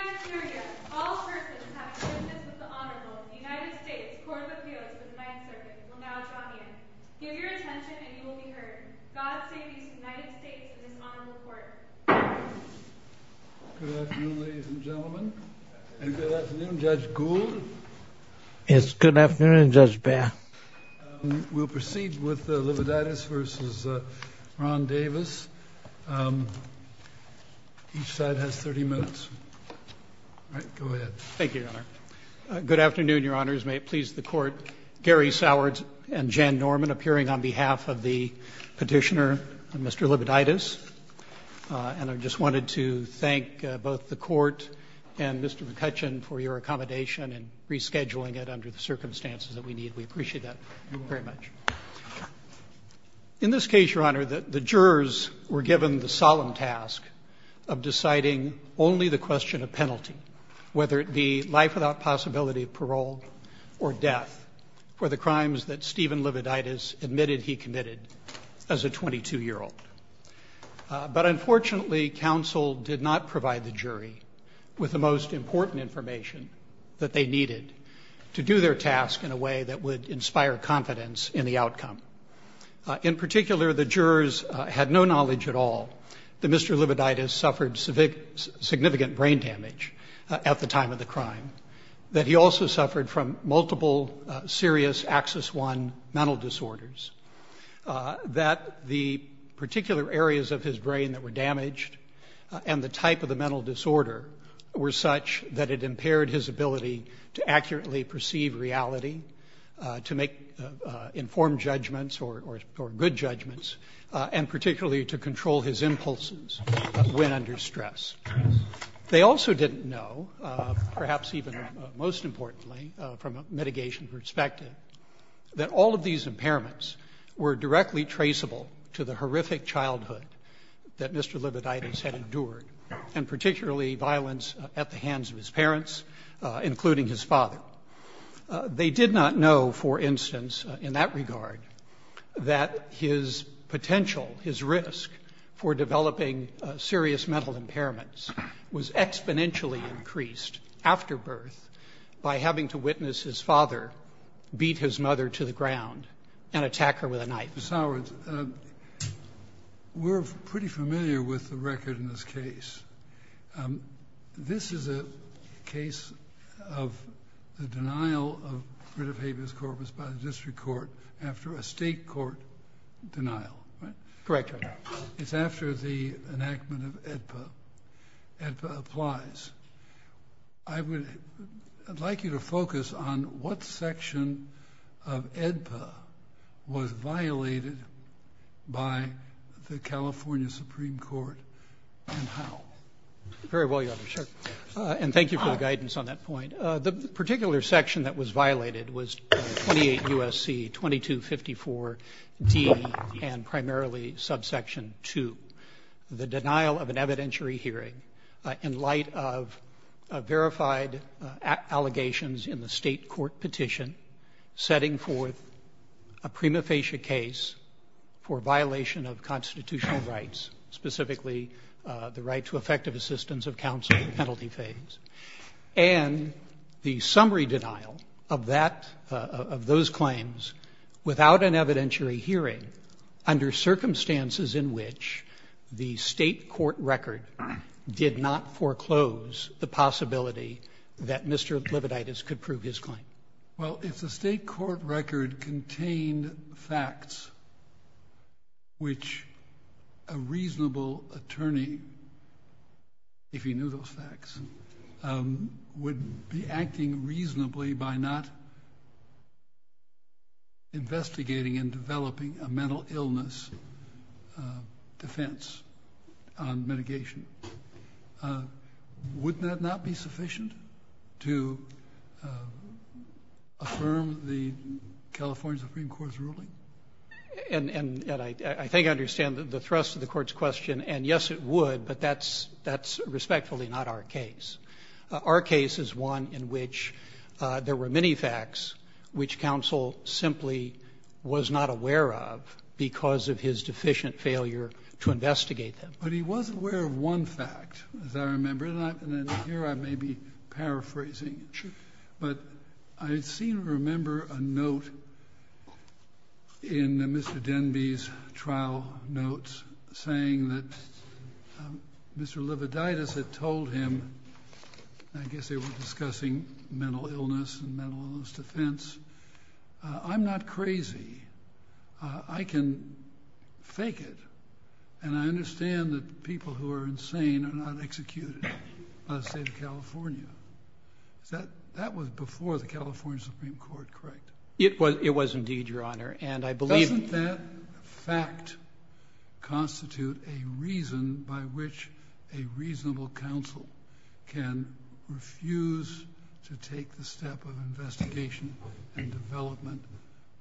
All persons have business with the Honorable United States Court of Appeals of the Ninth Circuit will now adjourn. Give your attention and you will be heard. God save these United States and this Honorable Court. Good afternoon ladies and gentlemen. And good afternoon Judge Gould. Yes, good afternoon Judge Baer. We'll proceed with the Livaditis v. Ron Davis. Each side has 30 minutes. All right, go ahead. Thank you, Your Honor. Good afternoon, Your Honors. May it please the Court. Gary Soward and Jan Norman appearing on behalf of the petitioner, Mr. Livaditis. And I just wanted to thank both the Court and Mr. McCutcheon for your accommodation and rescheduling it under the circumstances that we need. We appreciate that very much. In this case, Your Honor, the jurors were given the solemn task of deciding only the question of penalty, whether it be life without possibility of parole or death for the crimes that Stephen Livaditis admitted he committed as a 22-year-old. But unfortunately, counsel did not provide the jury with the most important information that they needed to do their task in a way that would inspire confidence in the outcome. In particular, the jurors had no knowledge at all that Mr. Livaditis suffered significant brain damage at the time of the crime, that he also suffered from multiple serious Axis I mental disorders, that the particular areas of his brain that were damaged and the type of the mental disorder were such that it impaired his ability to accurately perceive reality, to make informed judgments or good judgments, and particularly to control his impulses when under stress. They also didn't know, perhaps even most importantly from a mitigation perspective, that all of these impairments were directly traceable to the horrific childhood that Mr. Livaditis had endured, and particularly violence at the hands of his parents, including his father. They did not know, for instance, in that regard, that his potential, his risk, for developing serious mental impairments was exponentially increased after birth by having to witness his father beat his mother to the ground and attack her with a knife. Ms. Howards, we're pretty familiar with the record in this case. This is a case of the denial of writ of habeas corpus by the district court after a state court denial. Correct, Your Honor. It's after the enactment of AEDPA. AEDPA applies. I would like you to focus on what section of AEDPA was violated by the California Supreme Court and how. Very well, Your Honor. And thank you for the guidance on that point. The particular section that was violated was 28 U.S.C., 2254 D, and primarily subsection 2, the denial of an evidentiary hearing in light of verified allegations in the state court petition setting forth a prima facie case for violation of constitutional rights, specifically the right to effective assistance of counsel in the penalty phase. And the summary denial of that, of those claims, without an evidentiary hearing, under circumstances in which the state court record did not foreclose the possibility that Mr. Lividitis could prove his claim. Well, if the state court record contained facts which a reasonable attorney, if he knew those facts, would be acting reasonably by not investigating and developing a mental illness defense on mitigation, would that not be sufficient to affirm the California Supreme Court's ruling? And I think I understand the thrust of the Court's question. And, yes, it would, but that's respectfully not our case. Our case is one in which there were many facts which counsel simply was not aware of because of his deficient failure to investigate them. But he was aware of one fact, as I remember, and here I may be paraphrasing. But I seem to remember a note in Mr. Denby's trial notes saying that Mr. Lividitis had told him, I guess they were discussing mental illness and mental illness defense, I'm not crazy. I can fake it. And I understand that people who are insane are not executed by the state of California. That was before the California Supreme Court, correct? It was indeed, Your Honor. Doesn't that fact constitute a reason by which a reasonable counsel can refuse to take the step of investigation and development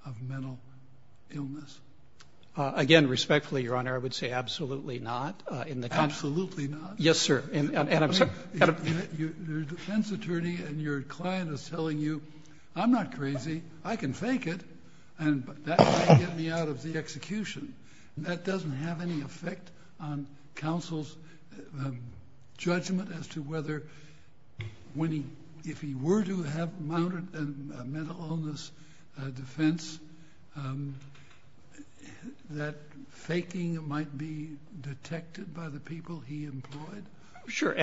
of mental illness? Again, respectfully, Your Honor, I would say absolutely not. Absolutely not? Yes, sir. Your defense attorney and your client is telling you, I'm not crazy, I can fake it, and that's going to get me out of the execution. That doesn't have any effect on counsel's judgment as to whether if he were to have mounted a mental illness defense, that faking might be detected by the people he employed? Sure.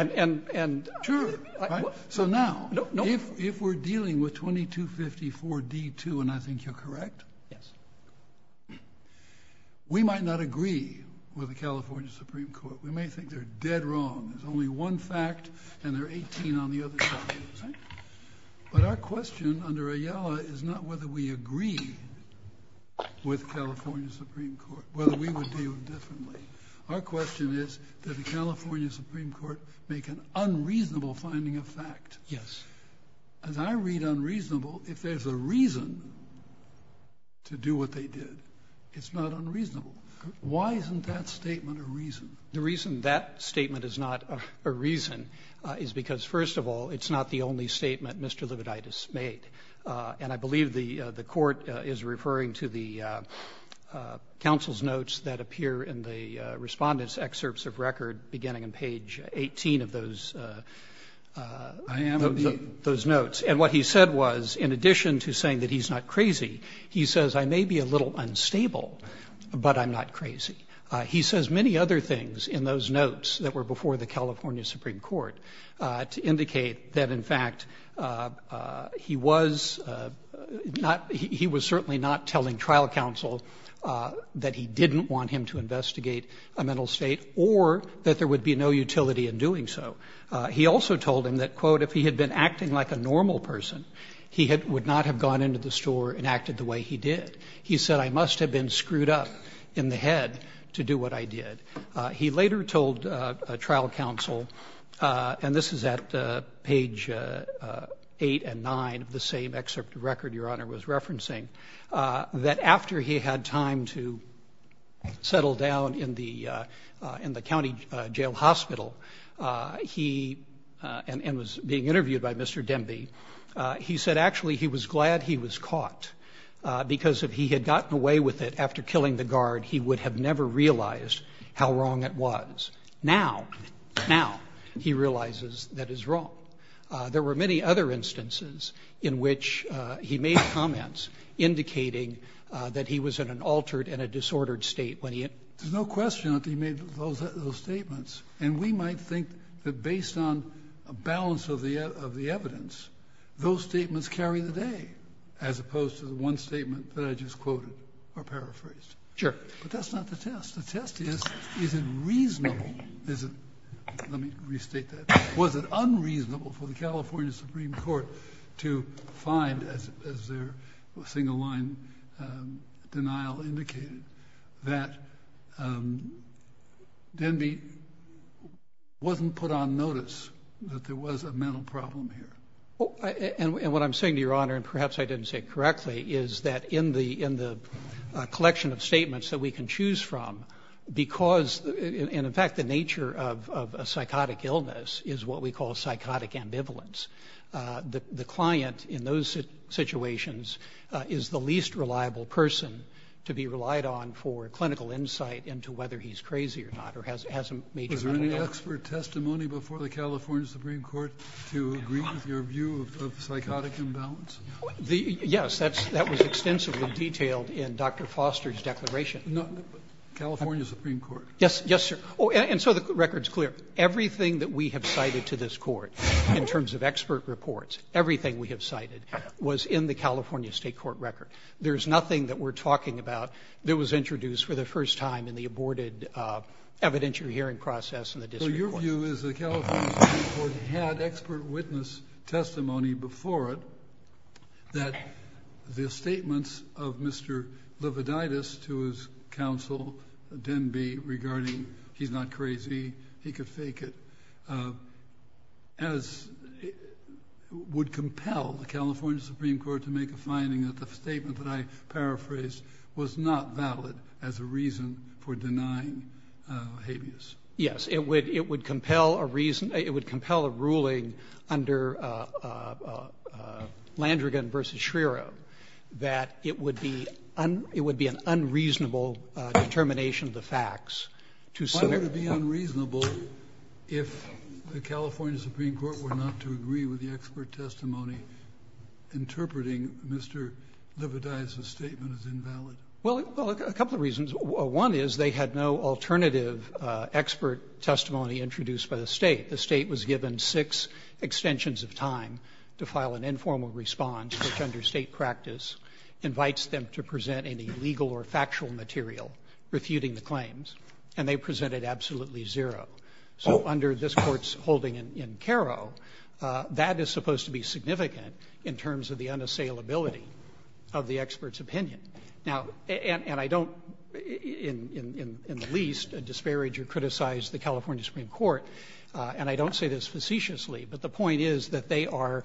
So now, if we're dealing with 2254D2, and I think you're correct, we might not agree with the California Supreme Court. We may think they're dead wrong. There's only one fact, and there are 18 on the other side. But our question under Ayala is not whether we agree with the California Supreme Court, whether we would deal differently. Our question is that the California Supreme Court make an unreasonable finding of fact. Yes. As I read unreasonable, if there's a reason to do what they did, it's not unreasonable. Why isn't that statement a reason? The reason that statement is not a reason is because, first of all, it's not the only statement Mr. Lividitis made. And I believe the court is referring to the counsel's notes that appear in the respondent's excerpts of record, beginning on page 18 of those notes. And what he said was, in addition to saying that he's not crazy, he says, I may be a little unstable, but I'm not crazy. He says many other things in those notes that were before the California Supreme Court to indicate that, in fact, he was not — he was certainly not telling trial counsel that he didn't want him to investigate a mental state or that there would be no utility in doing so. He also told him that, quote, if he had been acting like a normal person, he would not have gone into the store and acted the way he did. He said, I must have been screwed up in the head to do what I did. He later told trial counsel, and this is at page 8 and 9 of the same excerpt of record Your Honor was referencing, that after he had time to settle down in the county jail hospital and was being interviewed by Mr. Demby, he said actually he was glad he was caught because if he had gotten away with it after killing the guard, he would have never realized how wrong it was. Now, now he realizes that it's wrong. There were many other instances in which he made comments indicating that he was in an altered and a disordered state. There's no question that he made those statements. And we might think that based on a balance of the evidence, those statements carry the day, as opposed to the one statement that I just quoted or paraphrased. But that's not the test. The test is, is it reasonable, let me restate that, was it unreasonable for the California Supreme Court to find, as their single line denial indicated, that Demby wasn't put on notice that there was a mental problem here? And what I'm saying to Your Honor, and perhaps I didn't say it correctly, is that in the collection of statements that we can choose from, because, and in fact the nature of a psychotic illness is what we call psychotic ambivalence, the client in those situations is the least reliable person to be relied on for clinical insight into whether he's crazy or not. Was there any expert testimony before the California Supreme Court to agree with your view of psychotic imbalance? Yes, that was extensively detailed in Dr. Foster's declaration. No, California Supreme Court. Yes, yes, sir. And so the record's clear. Everything that we have cited to this Court in terms of expert reports, everything we have cited was in the California State Court record. There's nothing that we're talking about that was introduced for the first time in the aborted evidentiary hearing process in the district court. So your view is the California Supreme Court had expert witness testimony before it that the statements of Mr. Lividitis to his counsel, Denby, regarding he's not crazy, he could fake it, would compel the California Supreme Court to make a finding that the statement that I paraphrased was not valid as a reason for denying habeas. Yes, it would compel a ruling under Landrigan v. Schreier that it would be an unreasonable determination of the facts. Why would it be unreasonable if the California Supreme Court were not to agree with the expert testimony interpreting Mr. Lividitis' statement as invalid? Well, a couple of reasons. One is they had no alternative expert testimony introduced by the State. The State was given six extensions of time to file an informal response, which under State practice invites them to present any legal or factual material refuting the claims. And they presented absolutely zero. So under this Court's holding in Karo, that is supposed to be significant in terms of the unassailability of the expert's opinion. Now, and I don't, in the least, disparage or criticize the California Supreme Court, and I don't say this facetiously, but the point is that they are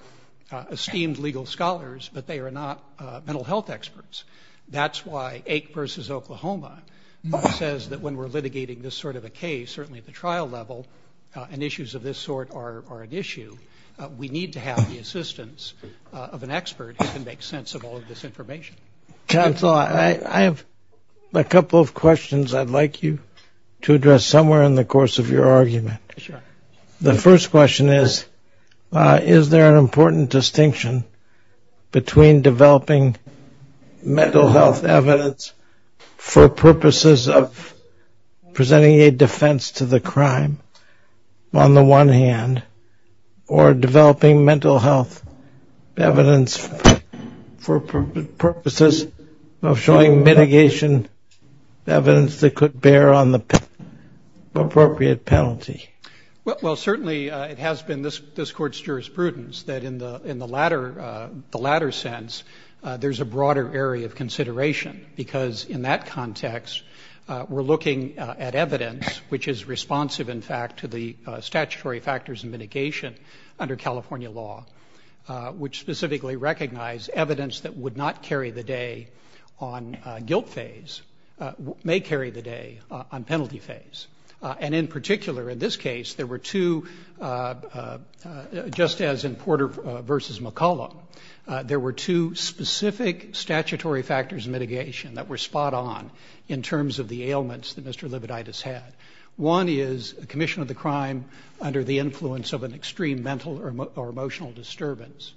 esteemed legal scholars, but they are not mental health experts. That's why Ake v. Oklahoma says that when we're litigating this sort of a case, certainly at the trial level, and issues of this sort are an issue, we need to have the assistance of an expert who can make sense of all of this information. Counsel, I have a couple of questions I'd like you to address somewhere in the course of your argument. Sure. The first question is, is there an important distinction between developing mental health evidence for purposes of presenting a defense to the crime, on the one hand, or developing mental health evidence for purposes of showing mitigation evidence that could bear on the appropriate penalty? Well, certainly it has been this Court's jurisprudence that in the latter sense, there's a broader area of consideration, because in that context, we're looking at evidence which is responsive, in fact, to the statutory factors of mitigation under California law, which specifically recognize evidence that would not carry the day on guilt phase may carry the day on penalty phase. And in particular, in this case, there were two, just as in Porter v. McCullough, there were two specific statutory factors of mitigation that were spot on in terms of the ailments that Mr. Lividitis had. One is a commission of the crime under the influence of an extreme mental or emotional disturbance.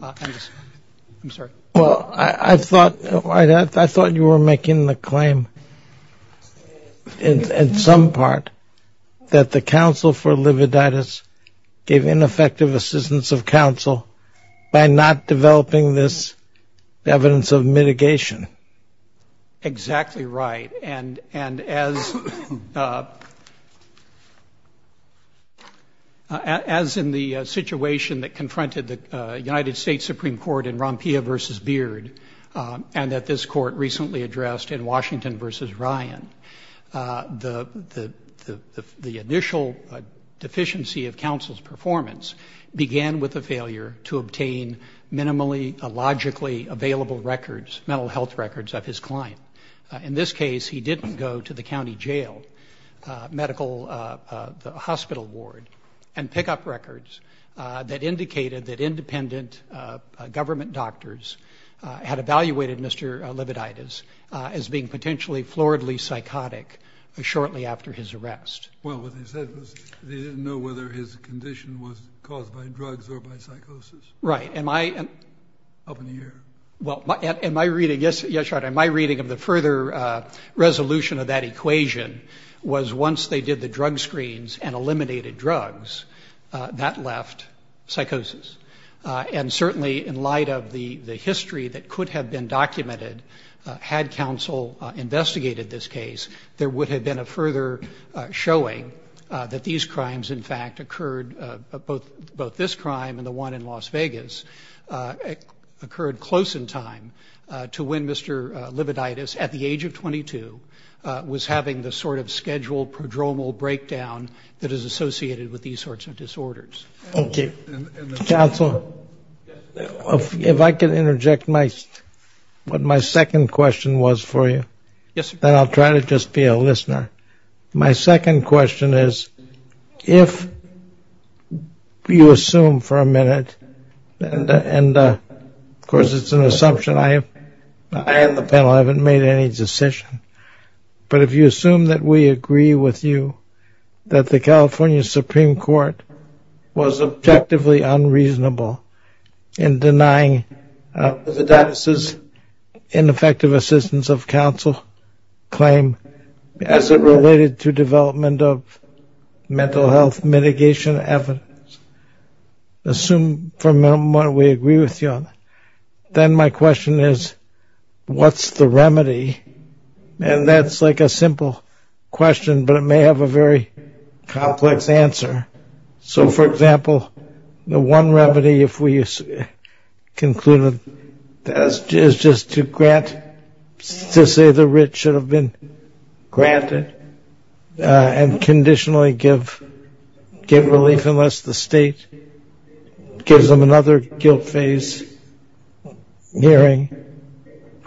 I'm sorry. Well, I thought you were making the claim, in some part, that the counsel for Lividitis gave ineffective assistance of counsel by not developing this evidence of mitigation. Exactly right. And as in the situation that confronted the United States Supreme Court in Rompilla v. Beard, and that this Court recently addressed in Washington v. Ryan, the initial deficiency of counsel's performance began with the failure to obtain minimally, logically available records, mental health records of his client. In this case, he didn't go to the county jail, the hospital ward, and pick up records that indicated that independent government doctors had evaluated Mr. Lividitis as being potentially floridly psychotic shortly after his arrest. Well, what they said was they didn't know whether his condition was caused by drugs or by psychosis. Right. Up in the air. Well, in my reading, yes, Your Honor, my reading of the further resolution of that equation was once they did the drug screens and eliminated drugs, that left psychosis. And certainly in light of the history that could have been documented had counsel investigated this case, there would have been a further showing that these crimes, in fact, occurred, both this crime and the one in Las Vegas, occurred close in time to when Mr. Lividitis, at the age of 22, was having the sort of scheduled prodromal breakdown that is associated with these sorts of disorders. Thank you. Counsel, if I could interject what my second question was for you. Yes, sir. Then I'll try to just be a listener. My second question is, if you assume for a minute, and, of course, it's an assumption. I am the panel. I haven't made any decision. But if you assume that we agree with you that the California Supreme Court was objectively unreasonable in denying Mr. Lividitis' ineffective assistance of counsel claim as it related to development of mental health mitigation evidence, assume for a moment we agree with you on that. Then my question is, what's the remedy? And that's like a simple question, but it may have a very complex answer. So, for example, the one remedy, if we conclude it, is just to grant, to say the writ should have been granted, and conditionally give relief unless the state gives them another guilt phase hearing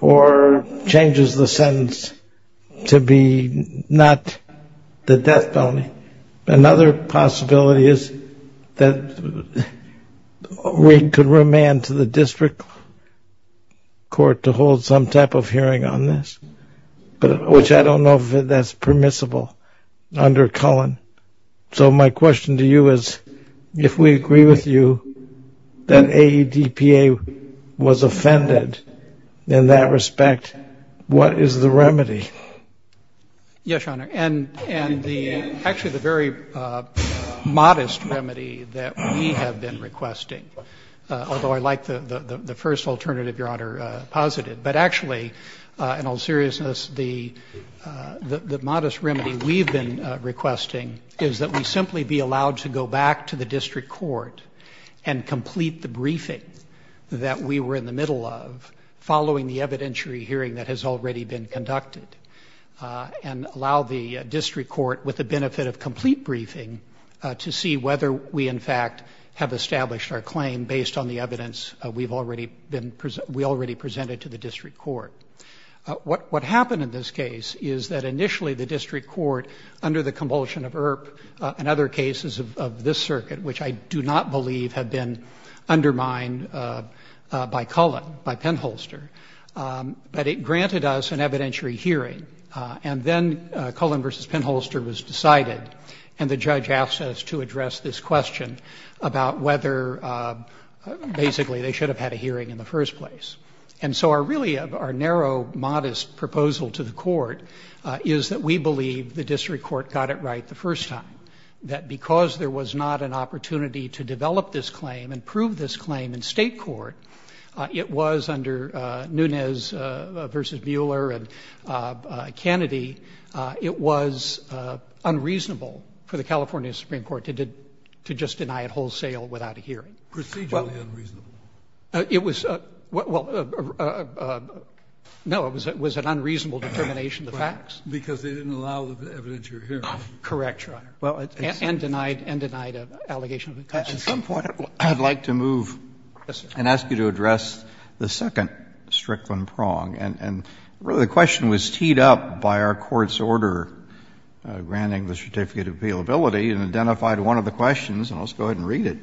or changes the sentence to be not the death penalty. Another possibility is that we could remand to the district court to hold some type of hearing on this, which I don't know if that's permissible under Cullen. So my question to you is, if we agree with you that AEDPA was offended in that respect, what is the remedy? Yes, Your Honor. And actually the very modest remedy that we have been requesting, although I like the first alternative Your Honor posited, but actually in all seriousness, the modest remedy we've been requesting is that we simply be allowed to go back to the district court and complete the briefing that we were in the middle of following the evidentiary hearing that has already been conducted and allow the district court, with the benefit of complete briefing, to see whether we in fact have established our claim based on the evidence we already presented to the district court. What happened in this case is that initially the district court, under the compulsion of IRP and other cases of this circuit, which I do not believe have been undermined by Cullen, by Penholster, but it granted us an evidentiary hearing. And then Cullen v. Penholster was decided, and the judge asked us to address this question about whether basically they should have had a hearing in the first place. And so really our narrow, modest proposal to the court is that we believe the district court got it right the first time, that because there was not an opportunity to develop this claim and prove this claim in State court, it was under Nunes v. Mueller and Kennedy, it was unreasonable for the California Supreme Court to just deny it wholesale without a hearing. It was an unreasonable determination of the facts. Because they didn't allow the evidentiary hearing. Correct, Your Honor. And denied an allegation. At some point I'd like to move and ask you to address the second Strickland prong. And the question was teed up by our court's order granting the certificate of appealability and identified one of the questions, and I'll just go ahead and read it.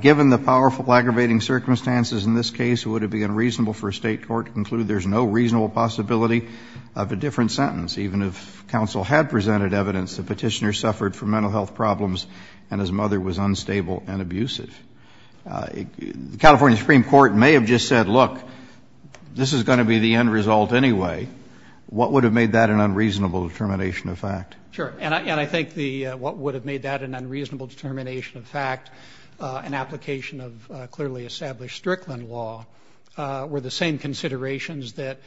Given the powerful aggravating circumstances in this case, would it be unreasonable for a State court to conclude there's no reasonable possibility of a different sentence even if counsel had presented evidence the petitioner suffered from mental health problems and his mother was unstable and abusive? The California Supreme Court may have just said, look, this is going to be the end result anyway. What would have made that an unreasonable determination of fact? Sure. And I think the what would have made that an unreasonable determination of fact, an application of clearly established Strickland law, were the same considerations that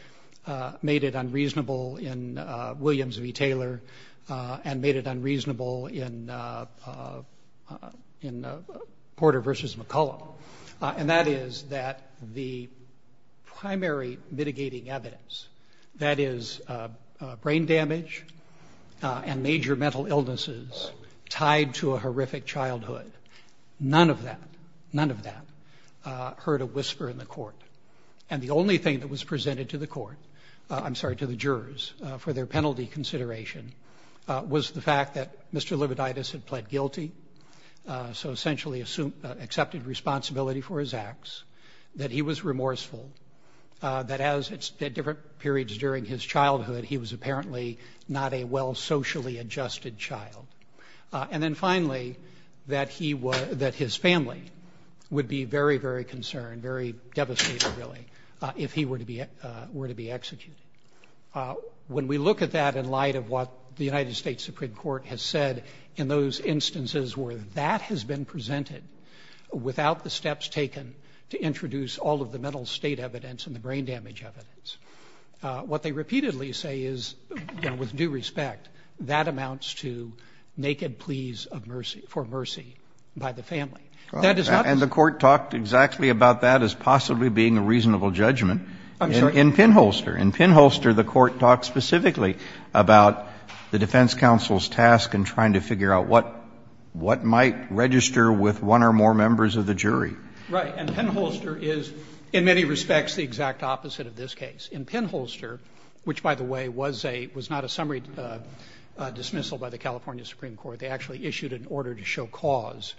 made it unreasonable in Williams v. Taylor and made it unreasonable in Porter v. McCullough. And that is that the primary mitigating evidence, that is brain damage and major mental illnesses tied to a horrific childhood, none of that, none of that heard a whisper in the court. And the only thing that was presented to the court, I'm sorry, to the jurors for their penalty consideration, was the fact that Mr. Lividitis had pled guilty, so essentially accepted responsibility for his acts, that he was remorseful, that as at different periods during his childhood, he was apparently not a well socially adjusted child. And then finally, that his family would be very, very concerned, very devastated really, if he were to be executed. When we look at that in light of what the United States Supreme Court has said in those instances where that has been presented without the steps taken to introduce all of the mental state evidence and the brain damage evidence, what they repeatedly say is, with due respect, that amounts to naked pleas for mercy by the family. And the court talked exactly about that as possibly being a reasonable judgment. In Pinholster. In Pinholster, the court talked specifically about the defense counsel's task in trying to figure out what might register with one or more members of the jury. Right. And Pinholster is, in many respects, the exact opposite of this case. In Pinholster, which, by the way, was not a summary dismissal by the California Supreme Court, they actually issued an order to show cause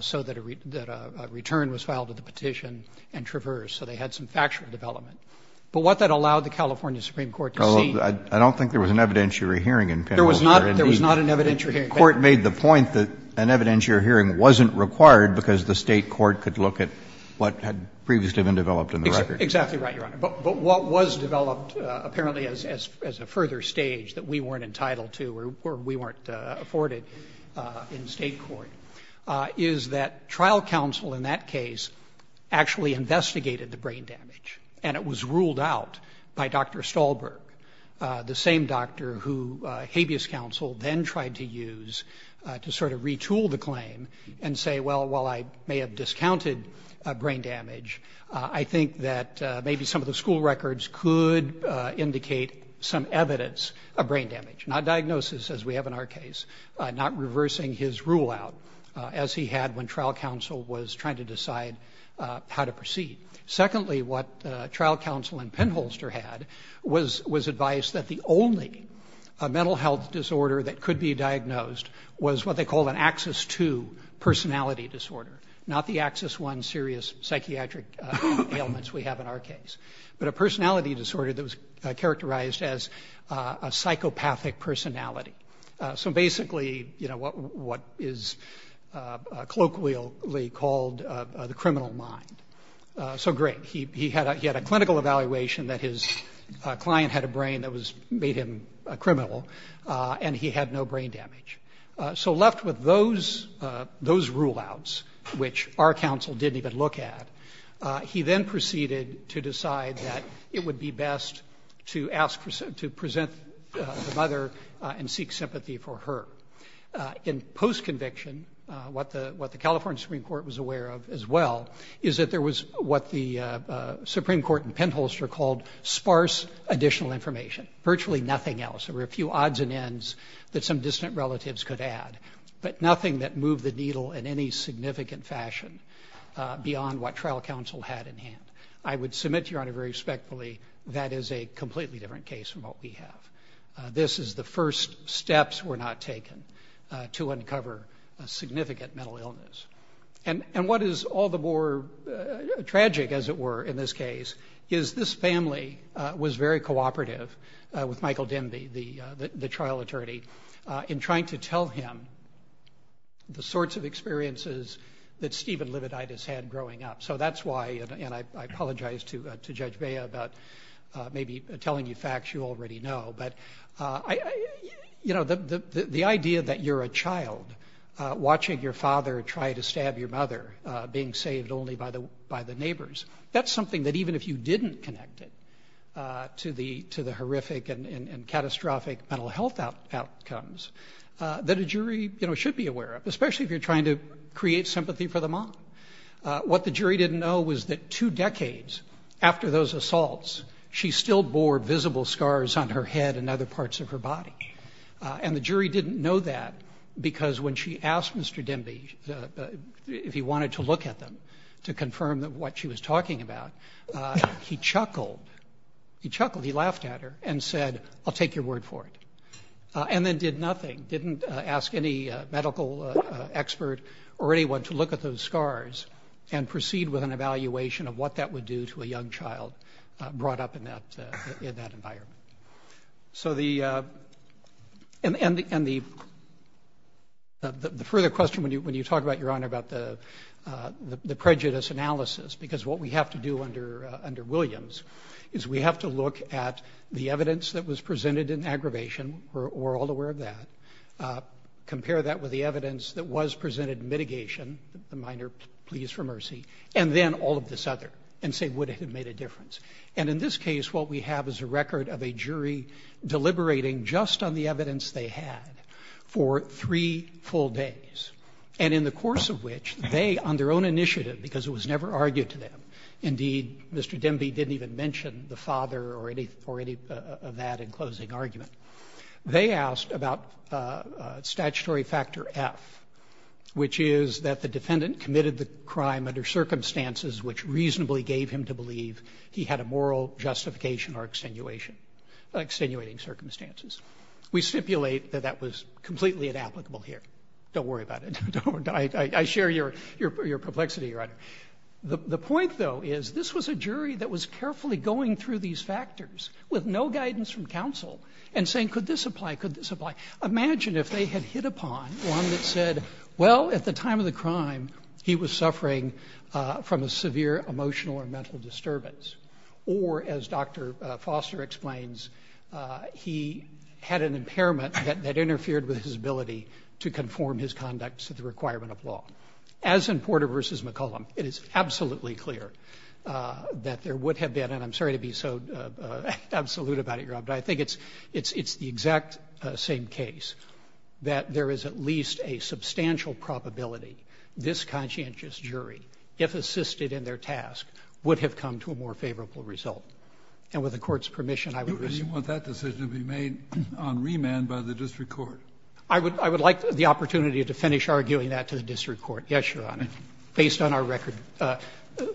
so that a return was filed at the petition and traversed. So they had some factual development. But what that allowed the California Supreme Court to see — Well, I don't think there was an evidentiary hearing in Pinholster. There was not. There was not an evidentiary hearing. The court made the point that an evidentiary hearing wasn't required because the State court could look at what had previously been developed in the record. Exactly right, Your Honor. But what was developed apparently as a further stage that we weren't entitled to or we weren't afforded in State court is that trial counsel in that case actually investigated the brain damage. And it was ruled out by Dr. Stahlberg, the same doctor who habeas counsel then tried to use to sort of retool the claim and say, well, while I may have discounted brain damage, I think that maybe some of the school records could indicate some evidence of brain damage. Not diagnosis as we have in our case, not reversing his rule out as he had when trial counsel was trying to decide how to proceed. Secondly, what trial counsel in Pinholster had was advice that the only mental health disorder that could be diagnosed was what they called an Axis II personality disorder, not the Axis I serious psychiatric ailments we have in our case, but a personality disorder that was characterized as a psychopathic personality. So, basically, you know, what is colloquially called the criminal mind. So, great, he had a clinical evaluation that his client had a brain that made him a criminal and he had no brain damage. So left with those rule outs, which our counsel didn't even look at, he then proceeded to ask, to present the mother and seek sympathy for her. In post-conviction, what the California Supreme Court was aware of as well, is that there was what the Supreme Court in Pinholster called sparse additional information, virtually nothing else. There were a few odds and ends that some distant relatives could add, but nothing that moved the needle in any significant fashion beyond what trial counsel had in hand. I would submit, Your Honor, very respectfully, that is a completely different case from what we have. This is the first steps were not taken to uncover a significant mental illness. And what is all the more tragic, as it were, in this case, is this family was very cooperative with Michael Demby, the trial attorney, in trying to tell him the sorts of experiences that Stephen Lividitis had growing up. So that's why, and I apologize to Judge Bea about maybe telling you facts you already know, but the idea that you're a child watching your father try to stab your mother, being saved only by the neighbors, that's something that even if you didn't connect it to the horrific and catastrophic mental health outcomes, that a jury should be aware of, especially if you're trying to create sympathy for the mom. What the jury didn't know was that two decades after those assaults, she still bore visible scars on her head and other parts of her body. And the jury didn't know that because when she asked Mr. Demby if he wanted to look at them to confirm what she was talking about, he chuckled. He chuckled. He laughed at her and said, I'll take your word for it. And then did nothing. Didn't ask any medical expert or anyone to look at those scars and proceed with an evaluation of what that would do to a young child brought up in that environment. And the further question, when you talk about, Your Honor, about the prejudice analysis, because what we have to do under Williams is we have to look at the evidence that was presented in mitigation, the minor pleas for mercy, and then all of this other and say, would it have made a difference? And in this case, what we have is a record of a jury deliberating just on the evidence they had for three full days. And in the course of which, they, on their own initiative, because it was never argued to them, indeed, Mr. Demby didn't even mention the father or any of that in closing argument, they asked about statutory factor F, which is that the defendant committed the crime under circumstances which reasonably gave him to believe he had a moral justification or extenuating circumstances. We stipulate that that was completely inapplicable here. Don't worry about it. I share your perplexity, Your Honor. The point, though, is this was a jury that was carefully going through these factors with no guidance from counsel and saying, could this apply, could this apply? Imagine if they had hit upon one that said, well, at the time of the crime, he was suffering from a severe emotional or mental disturbance, or as Dr. Foster explains, he had an impairment that interfered with his ability to conform his conduct to the requirement of law. As in Porter v. McCollum, it is absolutely clear that there would have been, and I'm sorry to be so absolute about it, Your Honor, but I think it's the exact same case, that there is at least a substantial probability this conscientious jury, if assisted in their task, would have come to a more favorable result. And with the Court's permission, I would reassure you. Kennedy, you want that decision to be made on remand by the district court. I would like the opportunity to finish arguing that to the district court, yes, Your Honor, based on our record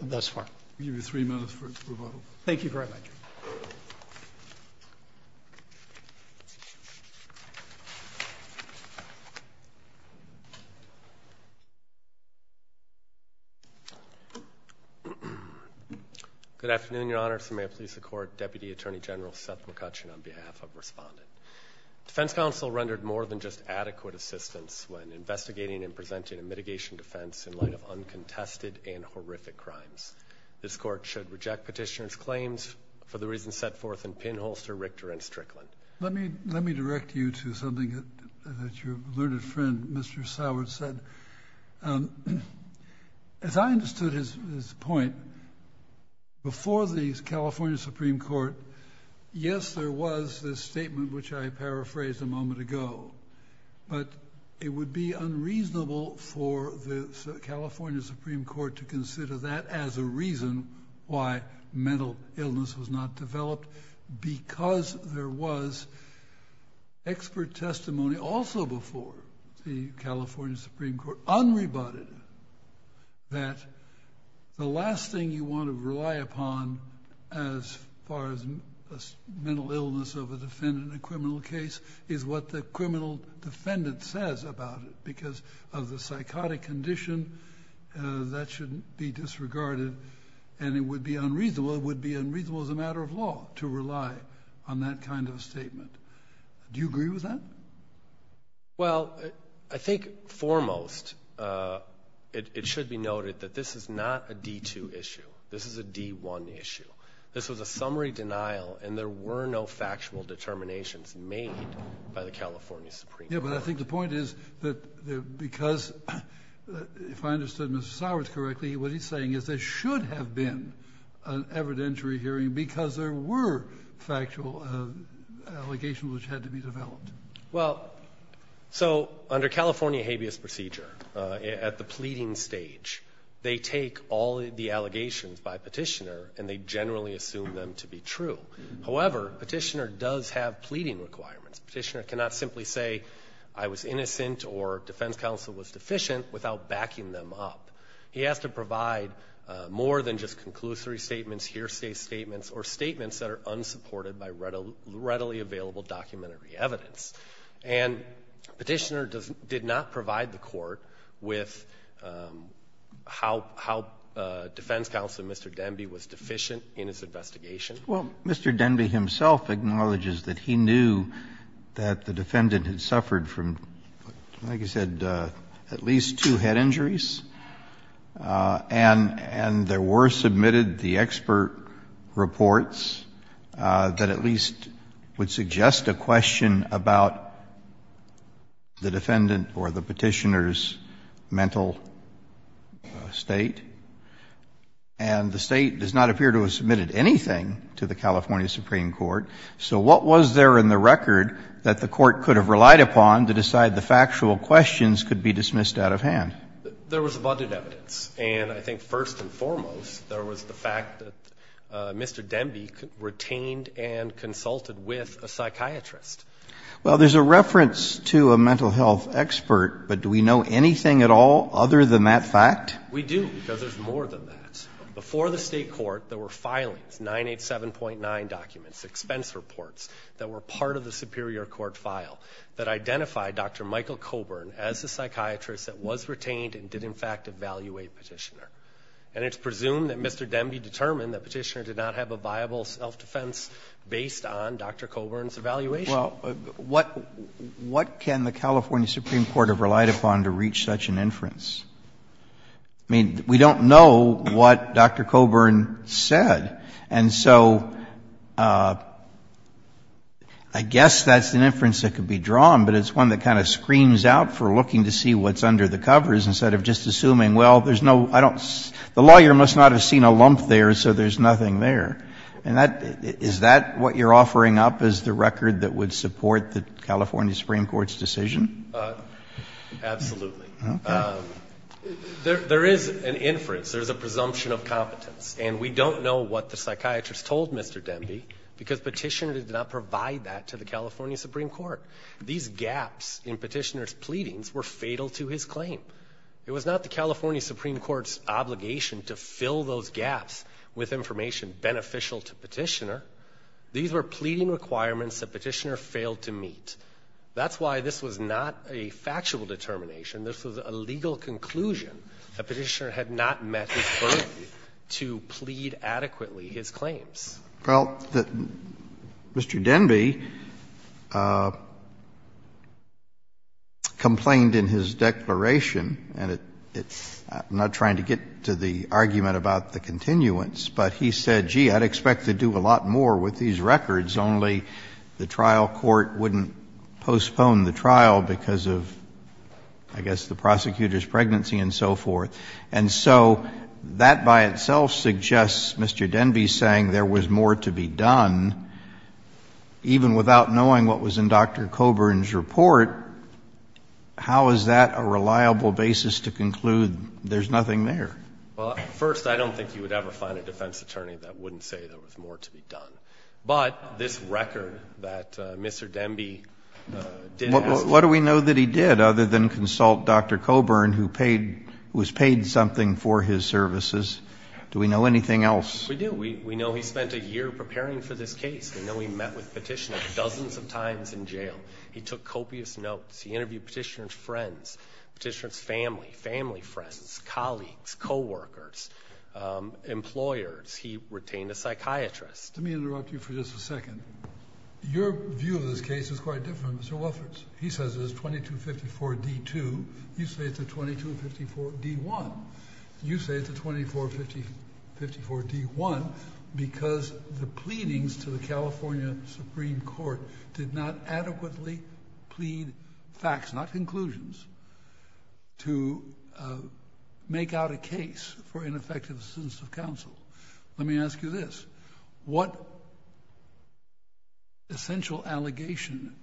thus far. We give you three minutes for rebuttal. Thank you very much. Good afternoon, Your Honor. May it please the Court, Deputy Attorney General Seth McCutcheon on behalf of Respondent. Defense counsel rendered more than just adequate assistance when investigating and presenting a mitigation defense in light of uncontested and horrific crimes. This Court should reject petitioner's claims for the reasons set forth in Pinholster, Richter, and Strickland. Let me direct you to something that your learned friend, Mr. Soward, said. As I understood his point, before the California Supreme Court, yes, there was this statement, which I paraphrased a moment ago, but it would be unreasonable for the reason why mental illness was not developed because there was expert testimony also before the California Supreme Court, unrebutted, that the last thing you want to rely upon as far as mental illness of a defendant in a criminal case is what the criminal defendant says about it because of the psychotic condition, that shouldn't be disregarded, and it would be unreasonable, it would be unreasonable as a matter of law to rely on that kind of statement. Do you agree with that? Well, I think foremost, it should be noted that this is not a D2 issue. This is a D1 issue. This was a summary denial and there were no factual determinations made by the California Supreme Court. Yes, but I think the point is that because, if I understood Mr. Soward correctly, what he's saying is there should have been an evidentiary hearing because there were factual allegations which had to be developed. Well, so under California habeas procedure, at the pleading stage, they take all the allegations by petitioner and they generally assume them to be true. However, petitioner does have pleading requirements. Petitioner cannot simply say, I was innocent or defense counsel was deficient without backing them up. He has to provide more than just conclusory statements, hearsay statements, or statements that are unsupported by readily available documentary evidence. And petitioner did not provide the court with how defense counsel, Mr. Denby, was deficient in his investigation. Well, Mr. Denby himself acknowledges that he knew that the defendant had suffered from, like I said, at least two head injuries, and there were submitted the expert reports that at least would suggest a question about the defendant or the petitioner's mental state. And the State does not appear to have submitted anything to the California Supreme Court. So what was there in the record that the court could have relied upon to decide the factual questions could be dismissed out of hand? There was abundant evidence. And I think first and foremost, there was the fact that Mr. Denby retained and consulted with a psychiatrist. Well, there's a reference to a mental health expert, but do we know anything at all other than that fact? We do, because there's more than that. Before the State court, there were filings, 987.9 documents, expense reports that were part of the Superior Court file that identified Dr. Michael Coburn as a psychiatrist that was retained and did, in fact, evaluate petitioner. And it's presumed that Mr. Denby determined that petitioner did not have a viable self-defense based on Dr. Coburn's evaluation. Well, what can the California Supreme Court have relied upon to reach such an inference? I mean, we don't know what Dr. Coburn said. And so I guess that's an inference that could be drawn, but it's one that kind of screams out for looking to see what's under the covers instead of just assuming, well, there's no, I don't, the lawyer must not have seen a lump there, so there's nothing there. And that, is that what you're offering up as the record that would support the California Supreme Court's decision? Absolutely. There is an inference. There's a presumption of competence. And we don't know what the psychiatrist told Mr. Denby because petitioner did not provide that to the California Supreme Court. These gaps in petitioner's pleadings were fatal to his claim. It was not the California Supreme Court's obligation to fill those gaps with information beneficial to petitioner. These were pleading requirements that petitioner failed to meet. That's why this was not a factual determination. This was a legal conclusion that petitioner had not met his burden to plead adequately his claims. Well, Mr. Denby complained in his declaration, and I'm not trying to get to the argument about the continuance, but he said, gee, I'd expect to do a lot more with these and so forth. And so that by itself suggests Mr. Denby saying there was more to be done, even without knowing what was in Dr. Coburn's report. How is that a reliable basis to conclude there's nothing there? Well, first, I don't think you would ever find a defense attorney that wouldn't say there was more to be done. But this record that Mr. Denby did have. What do we know that he did other than consult Dr. Coburn, who was paid something for his services? Do we know anything else? We do. We know he spent a year preparing for this case. We know he met with petitioner dozens of times in jail. He took copious notes. He interviewed petitioner's friends, petitioner's family, family friends, colleagues, coworkers, employers. He retained a psychiatrist. Let me interrupt you for just a second. Your view of this case is quite different, Mr. Wolferts. He says it is 2254 D-2. You say it's a 2254 D-1. You say it's a 2454 D-1 because the pleadings to the California Supreme Court did not adequately plead facts, not conclusions, to make out a case for ineffective assistance of counsel. Let me ask you this. What essential allegation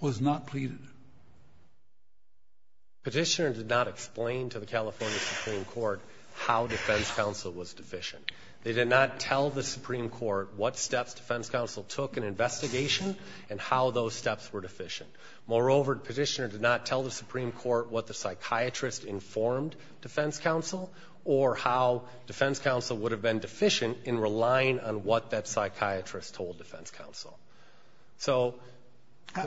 was not pleaded? Petitioner did not explain to the California Supreme Court how defense counsel was deficient. They did not tell the Supreme Court what steps defense counsel took in investigation and how those steps were deficient. Moreover, petitioner did not tell the Supreme Court what the psychiatrist informed defense counsel or how defense counsel would have been deficient in relying on what that psychiatrist told defense counsel. How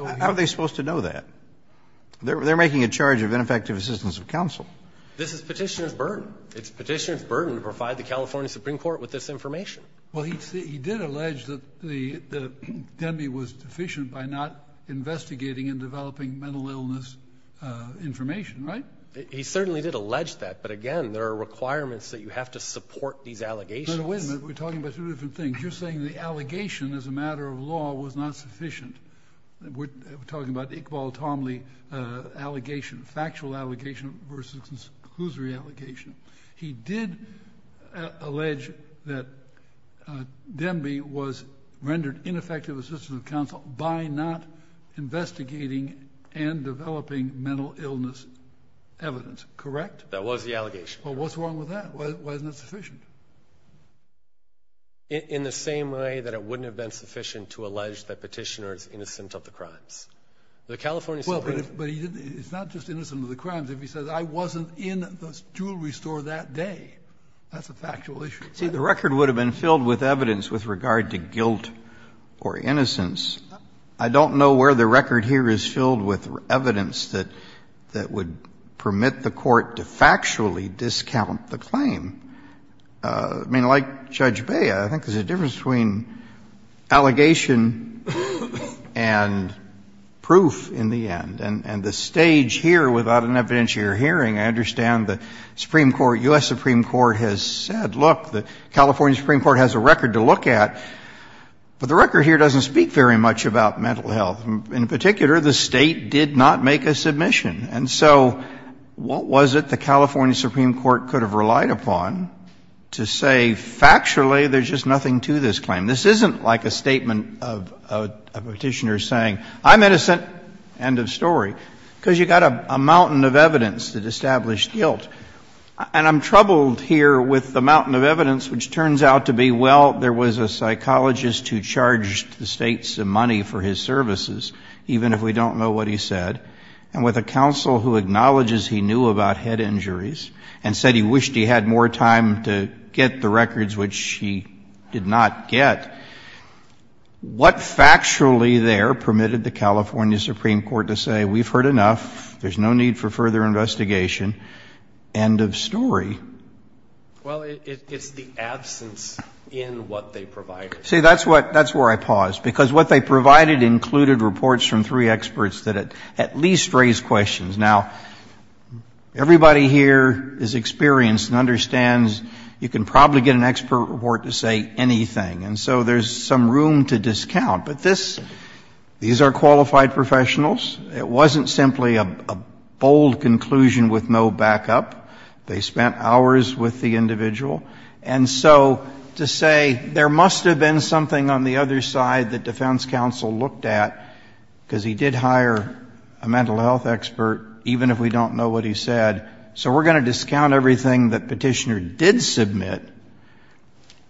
are they supposed to know that? They're making a charge of ineffective assistance of counsel. This is petitioner's burden. It's petitioner's burden to provide the California Supreme Court with this information. Well, he did allege that Denby was deficient by not investigating and developing mental illness information, right? He certainly did allege that. But, again, there are requirements that you have to support these allegations. Wait a minute. We're talking about two different things. You're saying the allegation as a matter of law was not sufficient. We're talking about Iqbal Tamli allegation, factual allegation versus conclusory allegation. He did allege that Denby was rendered ineffective assistance of counsel by not investigating and developing mental illness evidence, correct? That was the allegation. Well, what's wrong with that? Why isn't it sufficient? In the same way that it wouldn't have been sufficient to allege that petitioner is innocent of the crimes. Well, but it's not just innocent of the crimes. If he says I wasn't in the jewelry store that day, that's a factual issue. See, the record would have been filled with evidence with regard to guilt or innocence. I don't know where the record here is filled with evidence that would permit the Court to factually discount the claim. I mean, like Judge Bea, I think there's a difference between allegation and proof in the end. And the stage here, without an evidentiary hearing, I understand the Supreme Court, U.S. Supreme Court has said, look, the California Supreme Court has a record to look at, but the record here doesn't speak very much about mental health. In particular, the State did not make a submission. And so what was it the California Supreme Court could have relied upon to say factually there's just nothing to this claim? This isn't like a statement of a petitioner saying I'm innocent, end of story, because you've got a mountain of evidence that established guilt. And I'm troubled here with the mountain of evidence, which turns out to be, well, there was a psychologist who charged the State some money for his services, even if we don't know what he said, and with a counsel who acknowledges he knew about head injuries and said he wished he had more time to get the records, which he did not get. What factually there permitted the California Supreme Court to say we've heard enough, there's no need for further investigation, end of story? Well, it's the absence in what they provided. See, that's where I pause, because what they provided included reports from three experts that at least raised questions. Now, everybody here is experienced and understands you can probably get an expert report to say anything. And so there's some room to discount. But these are qualified professionals. It wasn't simply a bold conclusion with no backup. They spent hours with the individual. And so to say there must have been something on the other side that defense counsel looked at, because he did hire a mental health expert, even if we don't know what he said, so we're going to discount everything that petitioner did submit.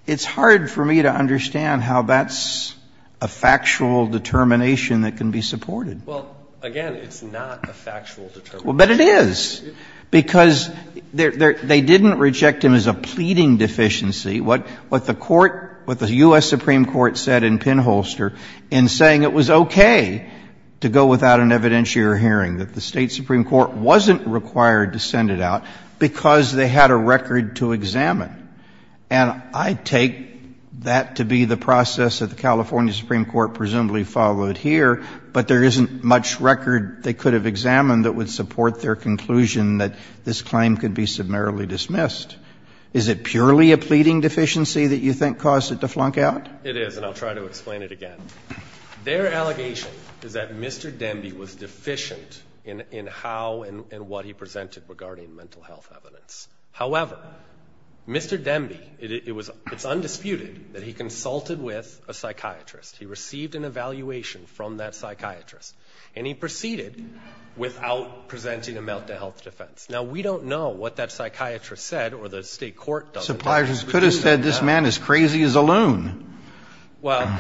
It's hard for me to understand how that's a factual determination that can be supported. Well, again, it's not a factual determination. But it is, because they didn't reject him as a pleading deficiency. What the court, what the U.S. Supreme Court said in Pinholster in saying it was okay to go without an evidentiary hearing, that the State Supreme Court wasn't required to send it out because they had a record to examine. And I take that to be the process that the California Supreme Court presumably followed here, but there isn't much record they could have examined that would support their conclusion that this claim could be summarily dismissed. Is it purely a pleading deficiency that you think caused it to flunk out? It is, and I'll try to explain it again. Their allegation is that Mr. Demby was deficient in how and what he presented regarding mental health evidence. However, Mr. Demby, it's undisputed that he consulted with a psychiatrist. He received an evaluation from that psychiatrist, and he proceeded without presenting a mental health defense. Now, we don't know what that psychiatrist said or the State Court does. The psychiatrist could have said this man is crazy as a loon. Well.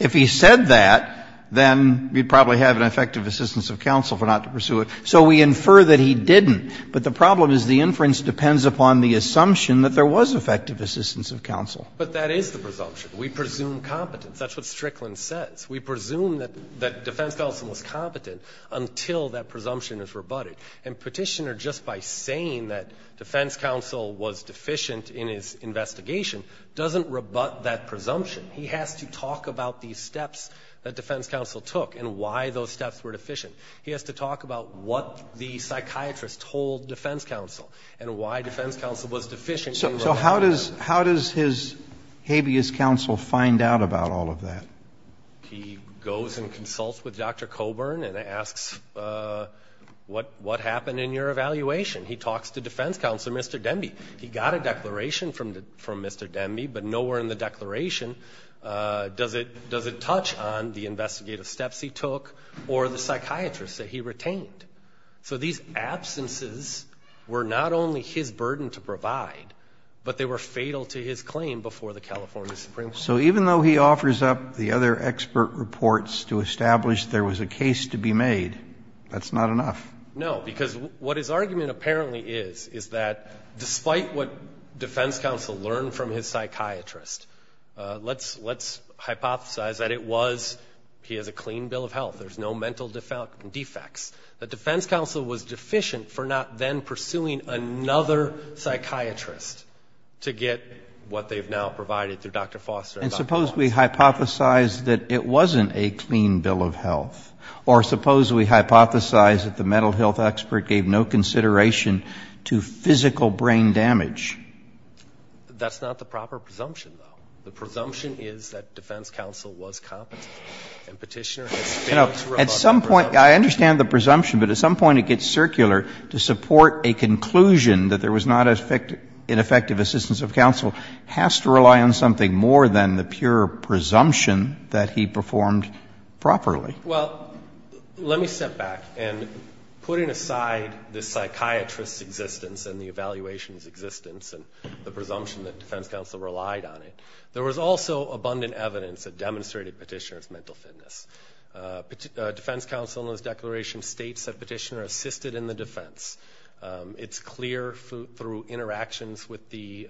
If he said that, then we'd probably have an effective assistance of counsel for not to pursue it. So we infer that he didn't. But the problem is the inference depends upon the assumption that there was effective assistance of counsel. But that is the presumption. We presume competence. That's what Strickland says. We presume that defense counsel was competent until that presumption is rebutted. And Petitioner, just by saying that defense counsel was deficient in his investigation, doesn't rebut that presumption. He has to talk about the steps that defense counsel took and why those steps were deficient. He has to talk about what the psychiatrist told defense counsel and why defense counsel was deficient. So how does his habeas counsel find out about all of that? He goes and consults with Dr. Coburn and asks, what happened in your evaluation? He talks to defense counsel, Mr. Demby. He got a declaration from Mr. Demby, but nowhere in the declaration does it touch on the investigative steps he took or the psychiatrist that he retained. So these absences were not only his burden to provide, but they were fatal to his claim before the California Supreme Court. So even though he offers up the other expert reports to establish there was a case to be made, that's not enough. No, because what his argument apparently is, is that despite what defense counsel learned from his psychiatrist, let's hypothesize that it was he has a clean bill of health. There's no mental defects. The defense counsel was deficient for not then pursuing another psychiatrist to get what they've now provided to Dr. Foster. And suppose we hypothesize that it wasn't a clean bill of health. Or suppose we hypothesize that the mental health expert gave no consideration to physical brain damage. That's not the proper presumption, though. The presumption is that defense counsel was competent. And Petitioner has failed to provide a presumption. I understand the presumption, but at some point it gets circular to support a conclusion that there was not an effective assistance of counsel has to rely on something more than the pure presumption that he performed properly. Well, let me step back. And putting aside the psychiatrist's existence and the evaluation's existence and the presumption that defense counsel relied on it, there was also abundant evidence that demonstrated Petitioner's mental fitness. Defense counsel in his declaration states that Petitioner assisted in the defense. It's clear through interactions with the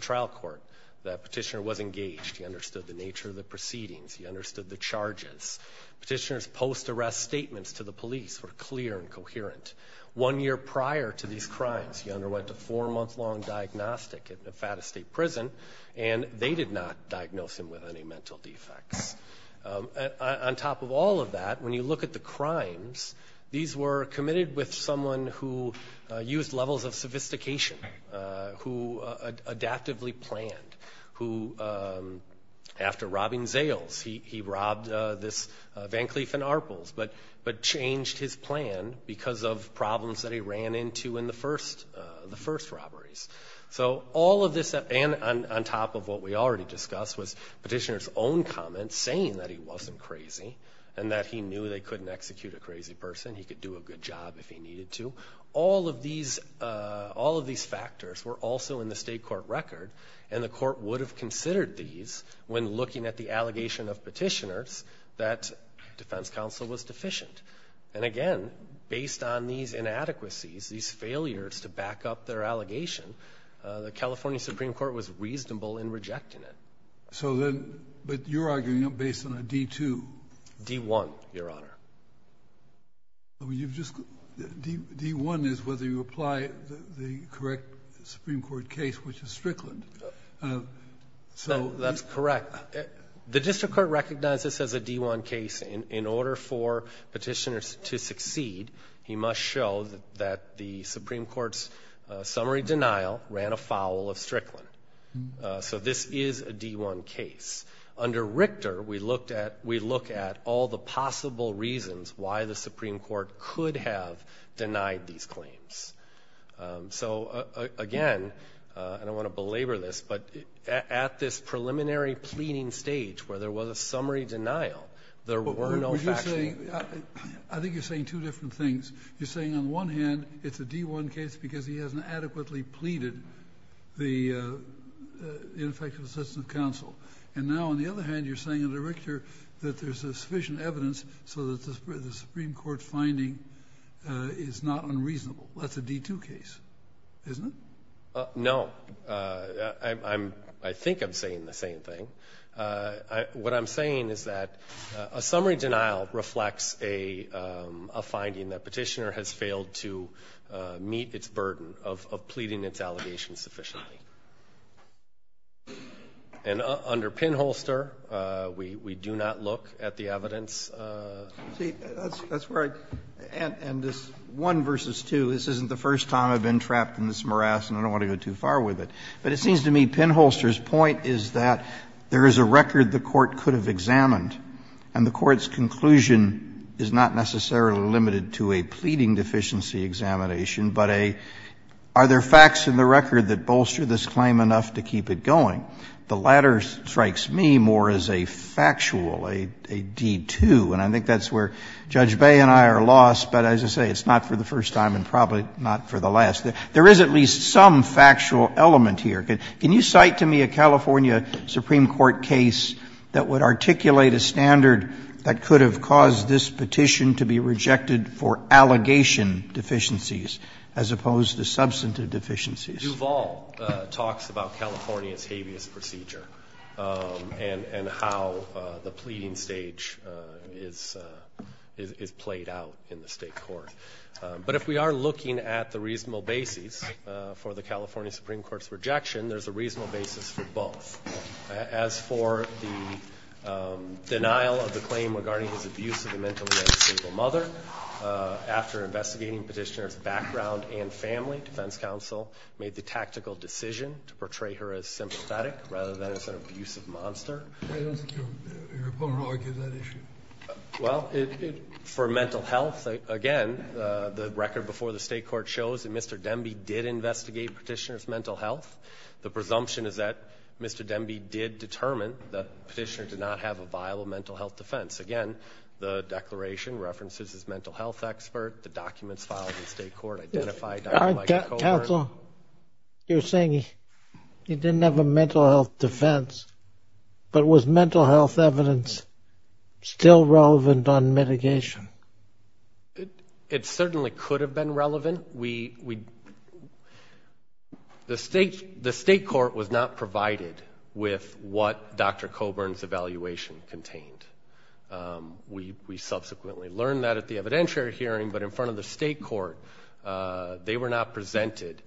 trial court that Petitioner was engaged. He understood the nature of the proceedings. He understood the charges. Petitioner's post-arrest statements to the police were clear and coherent. One year prior to these crimes, he underwent a four-month-long diagnostic at Nevada State Prison, and they did not diagnose him with any mental defects. These were committed with someone who used levels of sophistication, who adaptively planned, who after robbing Zales, he robbed this Van Cleef and Arpels, but changed his plan because of problems that he ran into in the first robberies. So all of this, and on top of what we already discussed, was Petitioner's own comments saying that he wasn't crazy and that he knew they couldn't execute a crazy person, he could do a good job if he needed to. All of these factors were also in the state court record, and the court would have considered these when looking at the allegation of Petitioner's that defense counsel was deficient. And again, based on these inadequacies, these failures to back up their allegation, the California Supreme Court was reasonable in rejecting it. But you're arguing based on a D-2. D-1, Your Honor. D-1 is whether you apply the correct Supreme Court case, which is Strickland. That's correct. The district court recognizes this as a D-1 case. In order for Petitioner to succeed, he must show that the Supreme Court's summary denial ran afoul of Strickland. So this is a D-1 case. Under Richter, we look at all the possible reasons why the Supreme Court could have denied these claims. So, again, and I don't want to belabor this, but at this preliminary pleading stage where there was a summary denial, there were no factual. I think you're saying two different things. You're saying, on the one hand, it's a D-1 case because he hasn't adequately pleaded the ineffective assistance of counsel. And now, on the other hand, you're saying under Richter that there's sufficient evidence so that the Supreme Court's finding is not unreasonable. That's a D-2 case, isn't it? No. I think I'm saying the same thing. What I'm saying is that a summary denial reflects a finding that Petitioner has failed to meet its burden of pleading its allegations sufficiently. And under Pinholster, we do not look at the evidence. See, that's where I end this one versus two. This isn't the first time I've been trapped in this morass, and I don't want to go too far with it. But it seems to me Pinholster's point is that there is a record the Court could have examined, and the Court's conclusion is not necessarily limited to a pleading deficiency examination, but a, are there facts in the record that bolster this claim enough to keep it going? The latter strikes me more as a factual, a D-2. And I think that's where Judge Bay and I are lost, but as I say, it's not for the first time and probably not for the last. There is at least some factual element here. Can you cite to me a California Supreme Court case that would articulate a standard that could have caused this petition to be rejected for allegation deficiencies as opposed to substantive deficiencies? Duvall talks about California's habeas procedure and how the pleading stage is played out in the State court. But if we are looking at the reasonable basis for the California Supreme Court's rejection, there's a reasonable basis for both. As for the denial of the claim regarding his abusive and mentally unstable mother, after investigating petitioner's background and family, defense counsel made the tactical decision to portray her as sympathetic rather than as an abusive monster. I don't think your opponent argues that issue. Well, for mental health, again, the record before the State court shows that Mr. Demby did investigate petitioner's mental health. The presumption is that Mr. Demby did determine that petitioner did not have a viable mental health defense. Again, the declaration references his mental health expert. The documents filed in State court identify Dr. Michael Coburn. Counsel, you're saying he didn't have a mental health defense, but was mental health evidence still relevant on mitigation? It certainly could have been relevant. The State court was not provided with what Dr. Coburn's evaluation contained. We subsequently learned that at the evidentiary hearing, but in front of the State court, the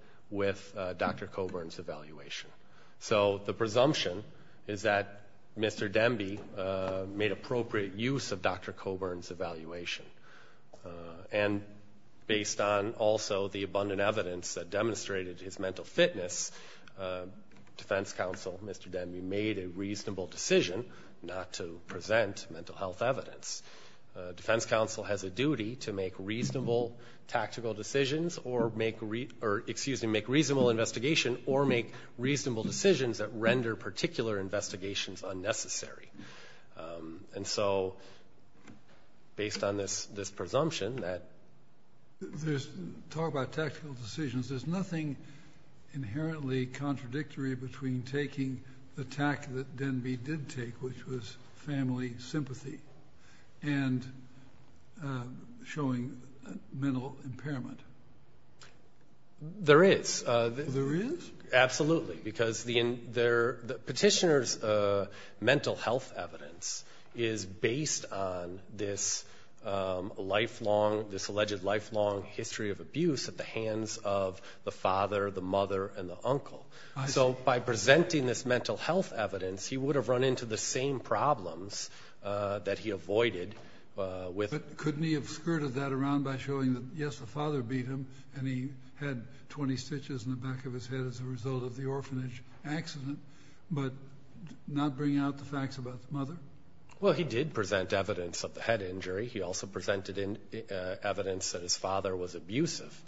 presumption is that Mr. Demby made appropriate use of Dr. Coburn's evaluation. Based on also the abundant evidence that demonstrated his mental fitness, defense counsel, Mr. Demby, made a reasonable decision not to present mental health evidence. Defense counsel has a duty to make reasonable tactical decisions or make reasonable investigation or make reasonable decisions that render particular investigations unnecessary. And so based on this presumption that- Talk about tactical decisions. There's nothing inherently contradictory between taking the tact that Demby did take, which was family sympathy, and showing mental impairment. There is. There is? Absolutely, because the petitioner's mental health evidence is based on this lifelong, this alleged lifelong history of abuse at the hands of the father, the mother, and the uncle. So by presenting this mental health evidence, he would have run into the same problems that he avoided with- and he had 20 stitches in the back of his head as a result of the orphanage accident, but not bring out the facts about the mother? Well, he did present evidence of the head injury. He also presented evidence that his father was abusive.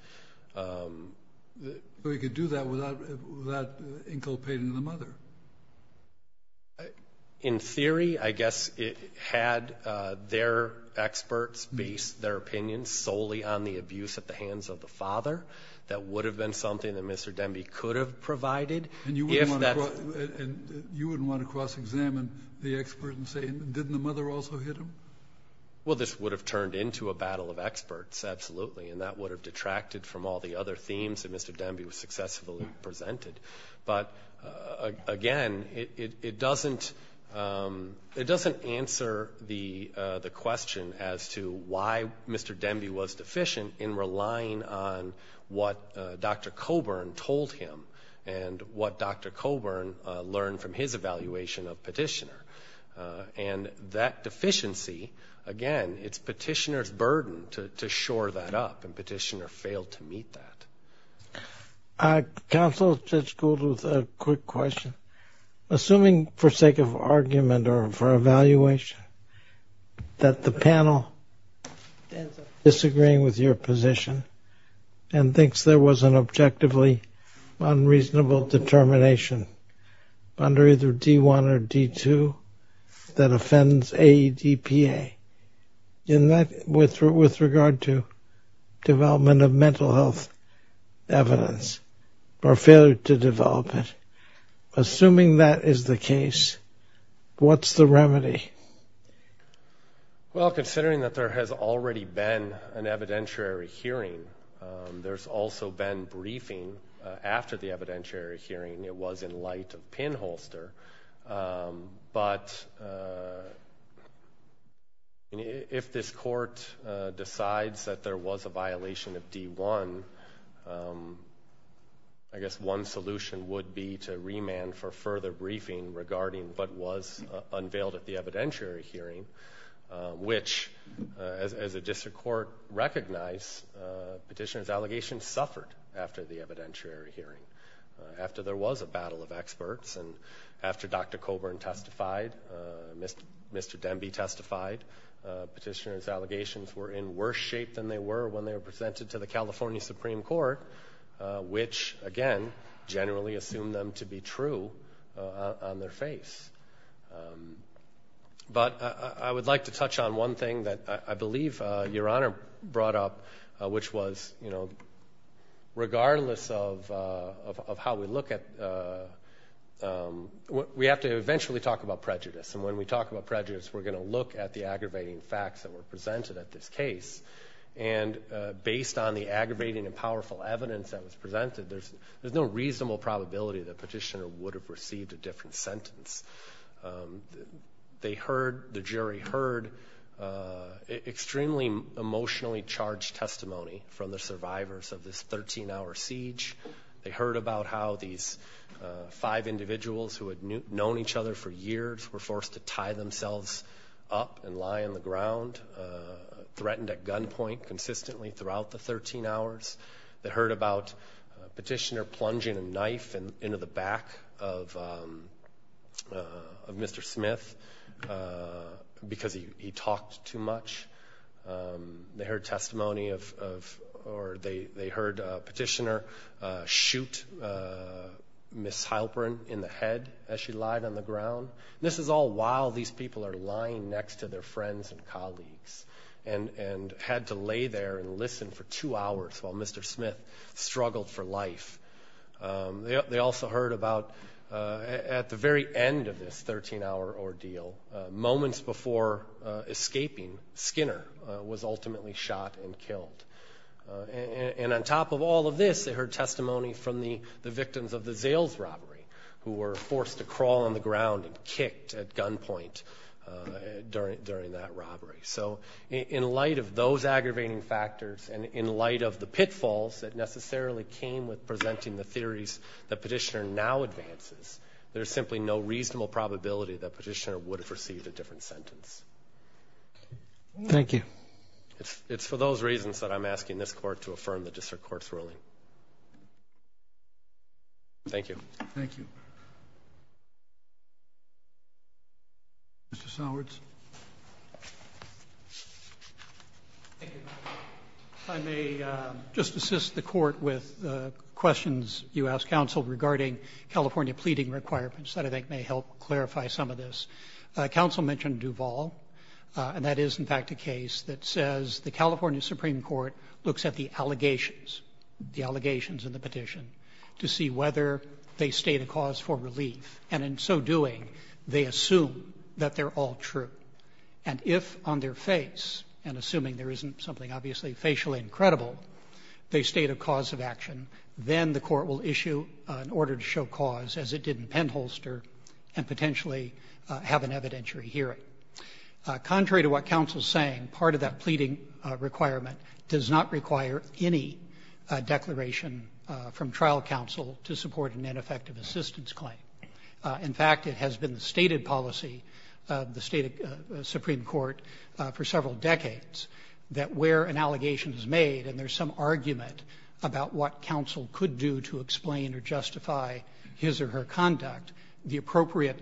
But he could do that without inculpating the mother. In theory, I guess it had their experts base their opinions solely on the abuse at the hands of the father. That would have been something that Mr. Demby could have provided. And you wouldn't want to cross-examine the expert and say, didn't the mother also hit him? Well, this would have turned into a battle of experts, absolutely, and that would have detracted from all the other themes that Mr. Demby was successfully presented. But, again, it doesn't answer the question as to why Mr. Demby was deficient in relying on what Dr. Coburn told him and what Dr. Coburn learned from his evaluation of Petitioner. And that deficiency, again, it's Petitioner's burden to shore that up, and Petitioner failed to meet that. Counsel, Judge Gould, with a quick question. Assuming, for sake of argument or for evaluation, that the panel disagrees with your position and thinks there was an objectively unreasonable determination under either D-1 or D-2 that offends AEDPA, with regard to development of mental health evidence or failure to develop it, assuming that is the case, what's the remedy? Well, considering that there has already been an evidentiary hearing, there's also been briefing after the evidentiary hearing. It was in light of pinholster. But if this court decides that there was a violation of D-1, I guess one solution would be to remand for further briefing regarding what was unveiled at the evidentiary hearing, which, as a district court recognized, Petitioner's allegation suffered after the evidentiary hearing. After there was a battle of experts and after Dr. Coburn testified, Mr. Demby testified, Petitioner's allegations were in worse shape than they were when they were presented to the California Supreme Court, which, again, generally assumed them to be true on their face. But I would like to touch on one thing that I believe Your Honor brought up, which was regardless of how we look at it, we have to eventually talk about prejudice. And when we talk about prejudice, we're going to look at the aggravating facts that were presented at this case. And based on the aggravating and powerful evidence that was presented, there's no reasonable probability that Petitioner would have received a different sentence. They heard, the jury heard, extremely emotionally charged testimony from the survivors of this 13-hour siege. They heard about how these five individuals who had known each other for years were forced to tie themselves up and lie on the ground, threatened at gunpoint consistently throughout the 13 hours. They heard about Petitioner plunging a knife into the back of Mr. Smith because he talked too much. They heard testimony of, or they heard Petitioner shoot Ms. Heilbrunn in the head as she lied on the ground. This is all while these people are lying next to their friends and colleagues and had to lay there and listen for two hours while Mr. Smith struggled for life. They also heard about at the very end of this 13-hour ordeal, moments before escaping, Skinner was ultimately shot and killed. And on top of all of this, they heard testimony from the victims of the Zales robbery who were forced to crawl on the ground and kicked at gunpoint during that robbery. So in light of those aggravating factors and in light of the pitfalls that necessarily came with presenting the theories that Petitioner now advances, there's simply no reasonable probability that Petitioner would have received a different sentence. Thank you. It's for those reasons that I'm asking this court to affirm the district court's ruling. Thank you. Thank you. Thank you. Mr. Sowards. Thank you. If I may just assist the court with questions you asked counsel regarding California pleading requirements that I think may help clarify some of this. Counsel mentioned Duval, and that is, in fact, a case that says the California Supreme Court looks at the allegations, the allegations in the petition, to see whether they state a cause for relief. And in so doing, they assume that they're all true. And if on their face, and assuming there isn't something obviously facially incredible, they state a cause of action, then the court will issue an order to show cause, as it did in Penholster, and potentially have an evidentiary hearing. Contrary to what counsel is saying, part of that pleading requirement does not require any declaration from trial counsel to support an ineffective assistance claim. In fact, it has been the stated policy of the state Supreme Court for several decades that where an allegation is made and there's some argument about what counsel could do to explain or justify his or her conduct, the appropriate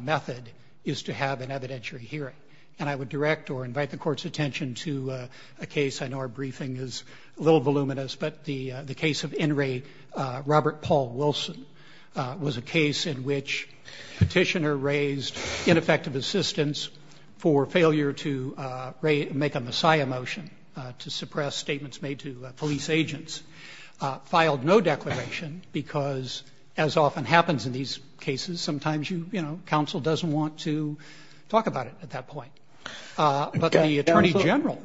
method is to have an evidentiary hearing. And I would direct or invite the Court's attention to a case, I know our briefing is a little voluminous, but the case of in-rate Robert Paul Wilson was a case in which a petitioner raised ineffective assistance for failure to make a messiah motion to suppress statements made to police agents, filed no declaration because, as often happens in these cases, sometimes, you know, counsel doesn't want to talk about it at that point. But the Attorney General,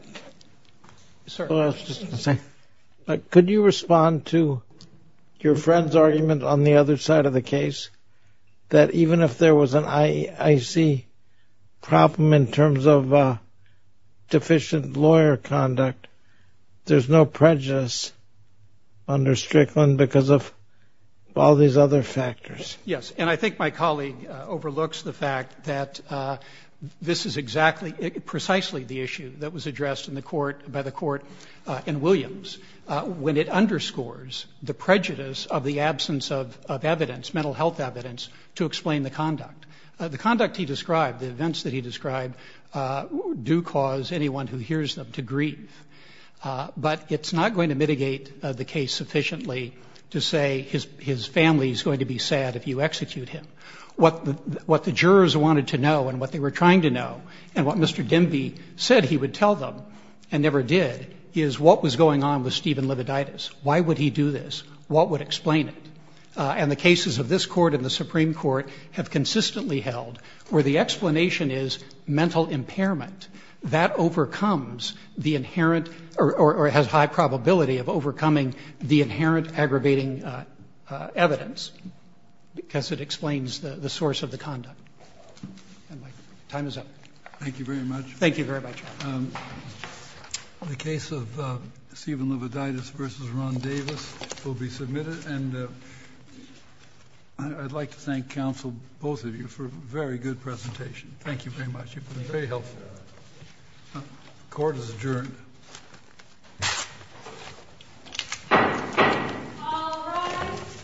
sir. I was just going to say, could you respond to your friend's argument on the other side of the case, that even if there was an I.C. problem in terms of deficient lawyer conduct, there's no prejudice under Strickland because of all these other factors? Yes, and I think my colleague overlooks the fact that this is precisely the issue that was addressed by the Court in Williams. When it underscores the prejudice of the absence of evidence, mental health evidence, to explain the conduct. The conduct he described, the events that he described, do cause anyone who hears them to grieve. But it's not going to mitigate the case sufficiently to say his family is going to be sad if you execute him. What the jurors wanted to know and what they were trying to know and what Mr. Demby said he would tell them and never did, is what was going on with Stephen Lividitis? Why would he do this? What would explain it? And the cases of this Court and the Supreme Court have consistently held where the explanation is mental impairment. That overcomes the inherent or has high probability of overcoming the inherent aggravating evidence because it explains the source of the conduct. Time is up. Thank you very much. Thank you very much. The case of Stephen Lividitis v. Ron Davis will be submitted. I'd like to thank counsel, both of you, for a very good presentation. Thank you very much. You've been very helpful. Court is adjourned. All rise.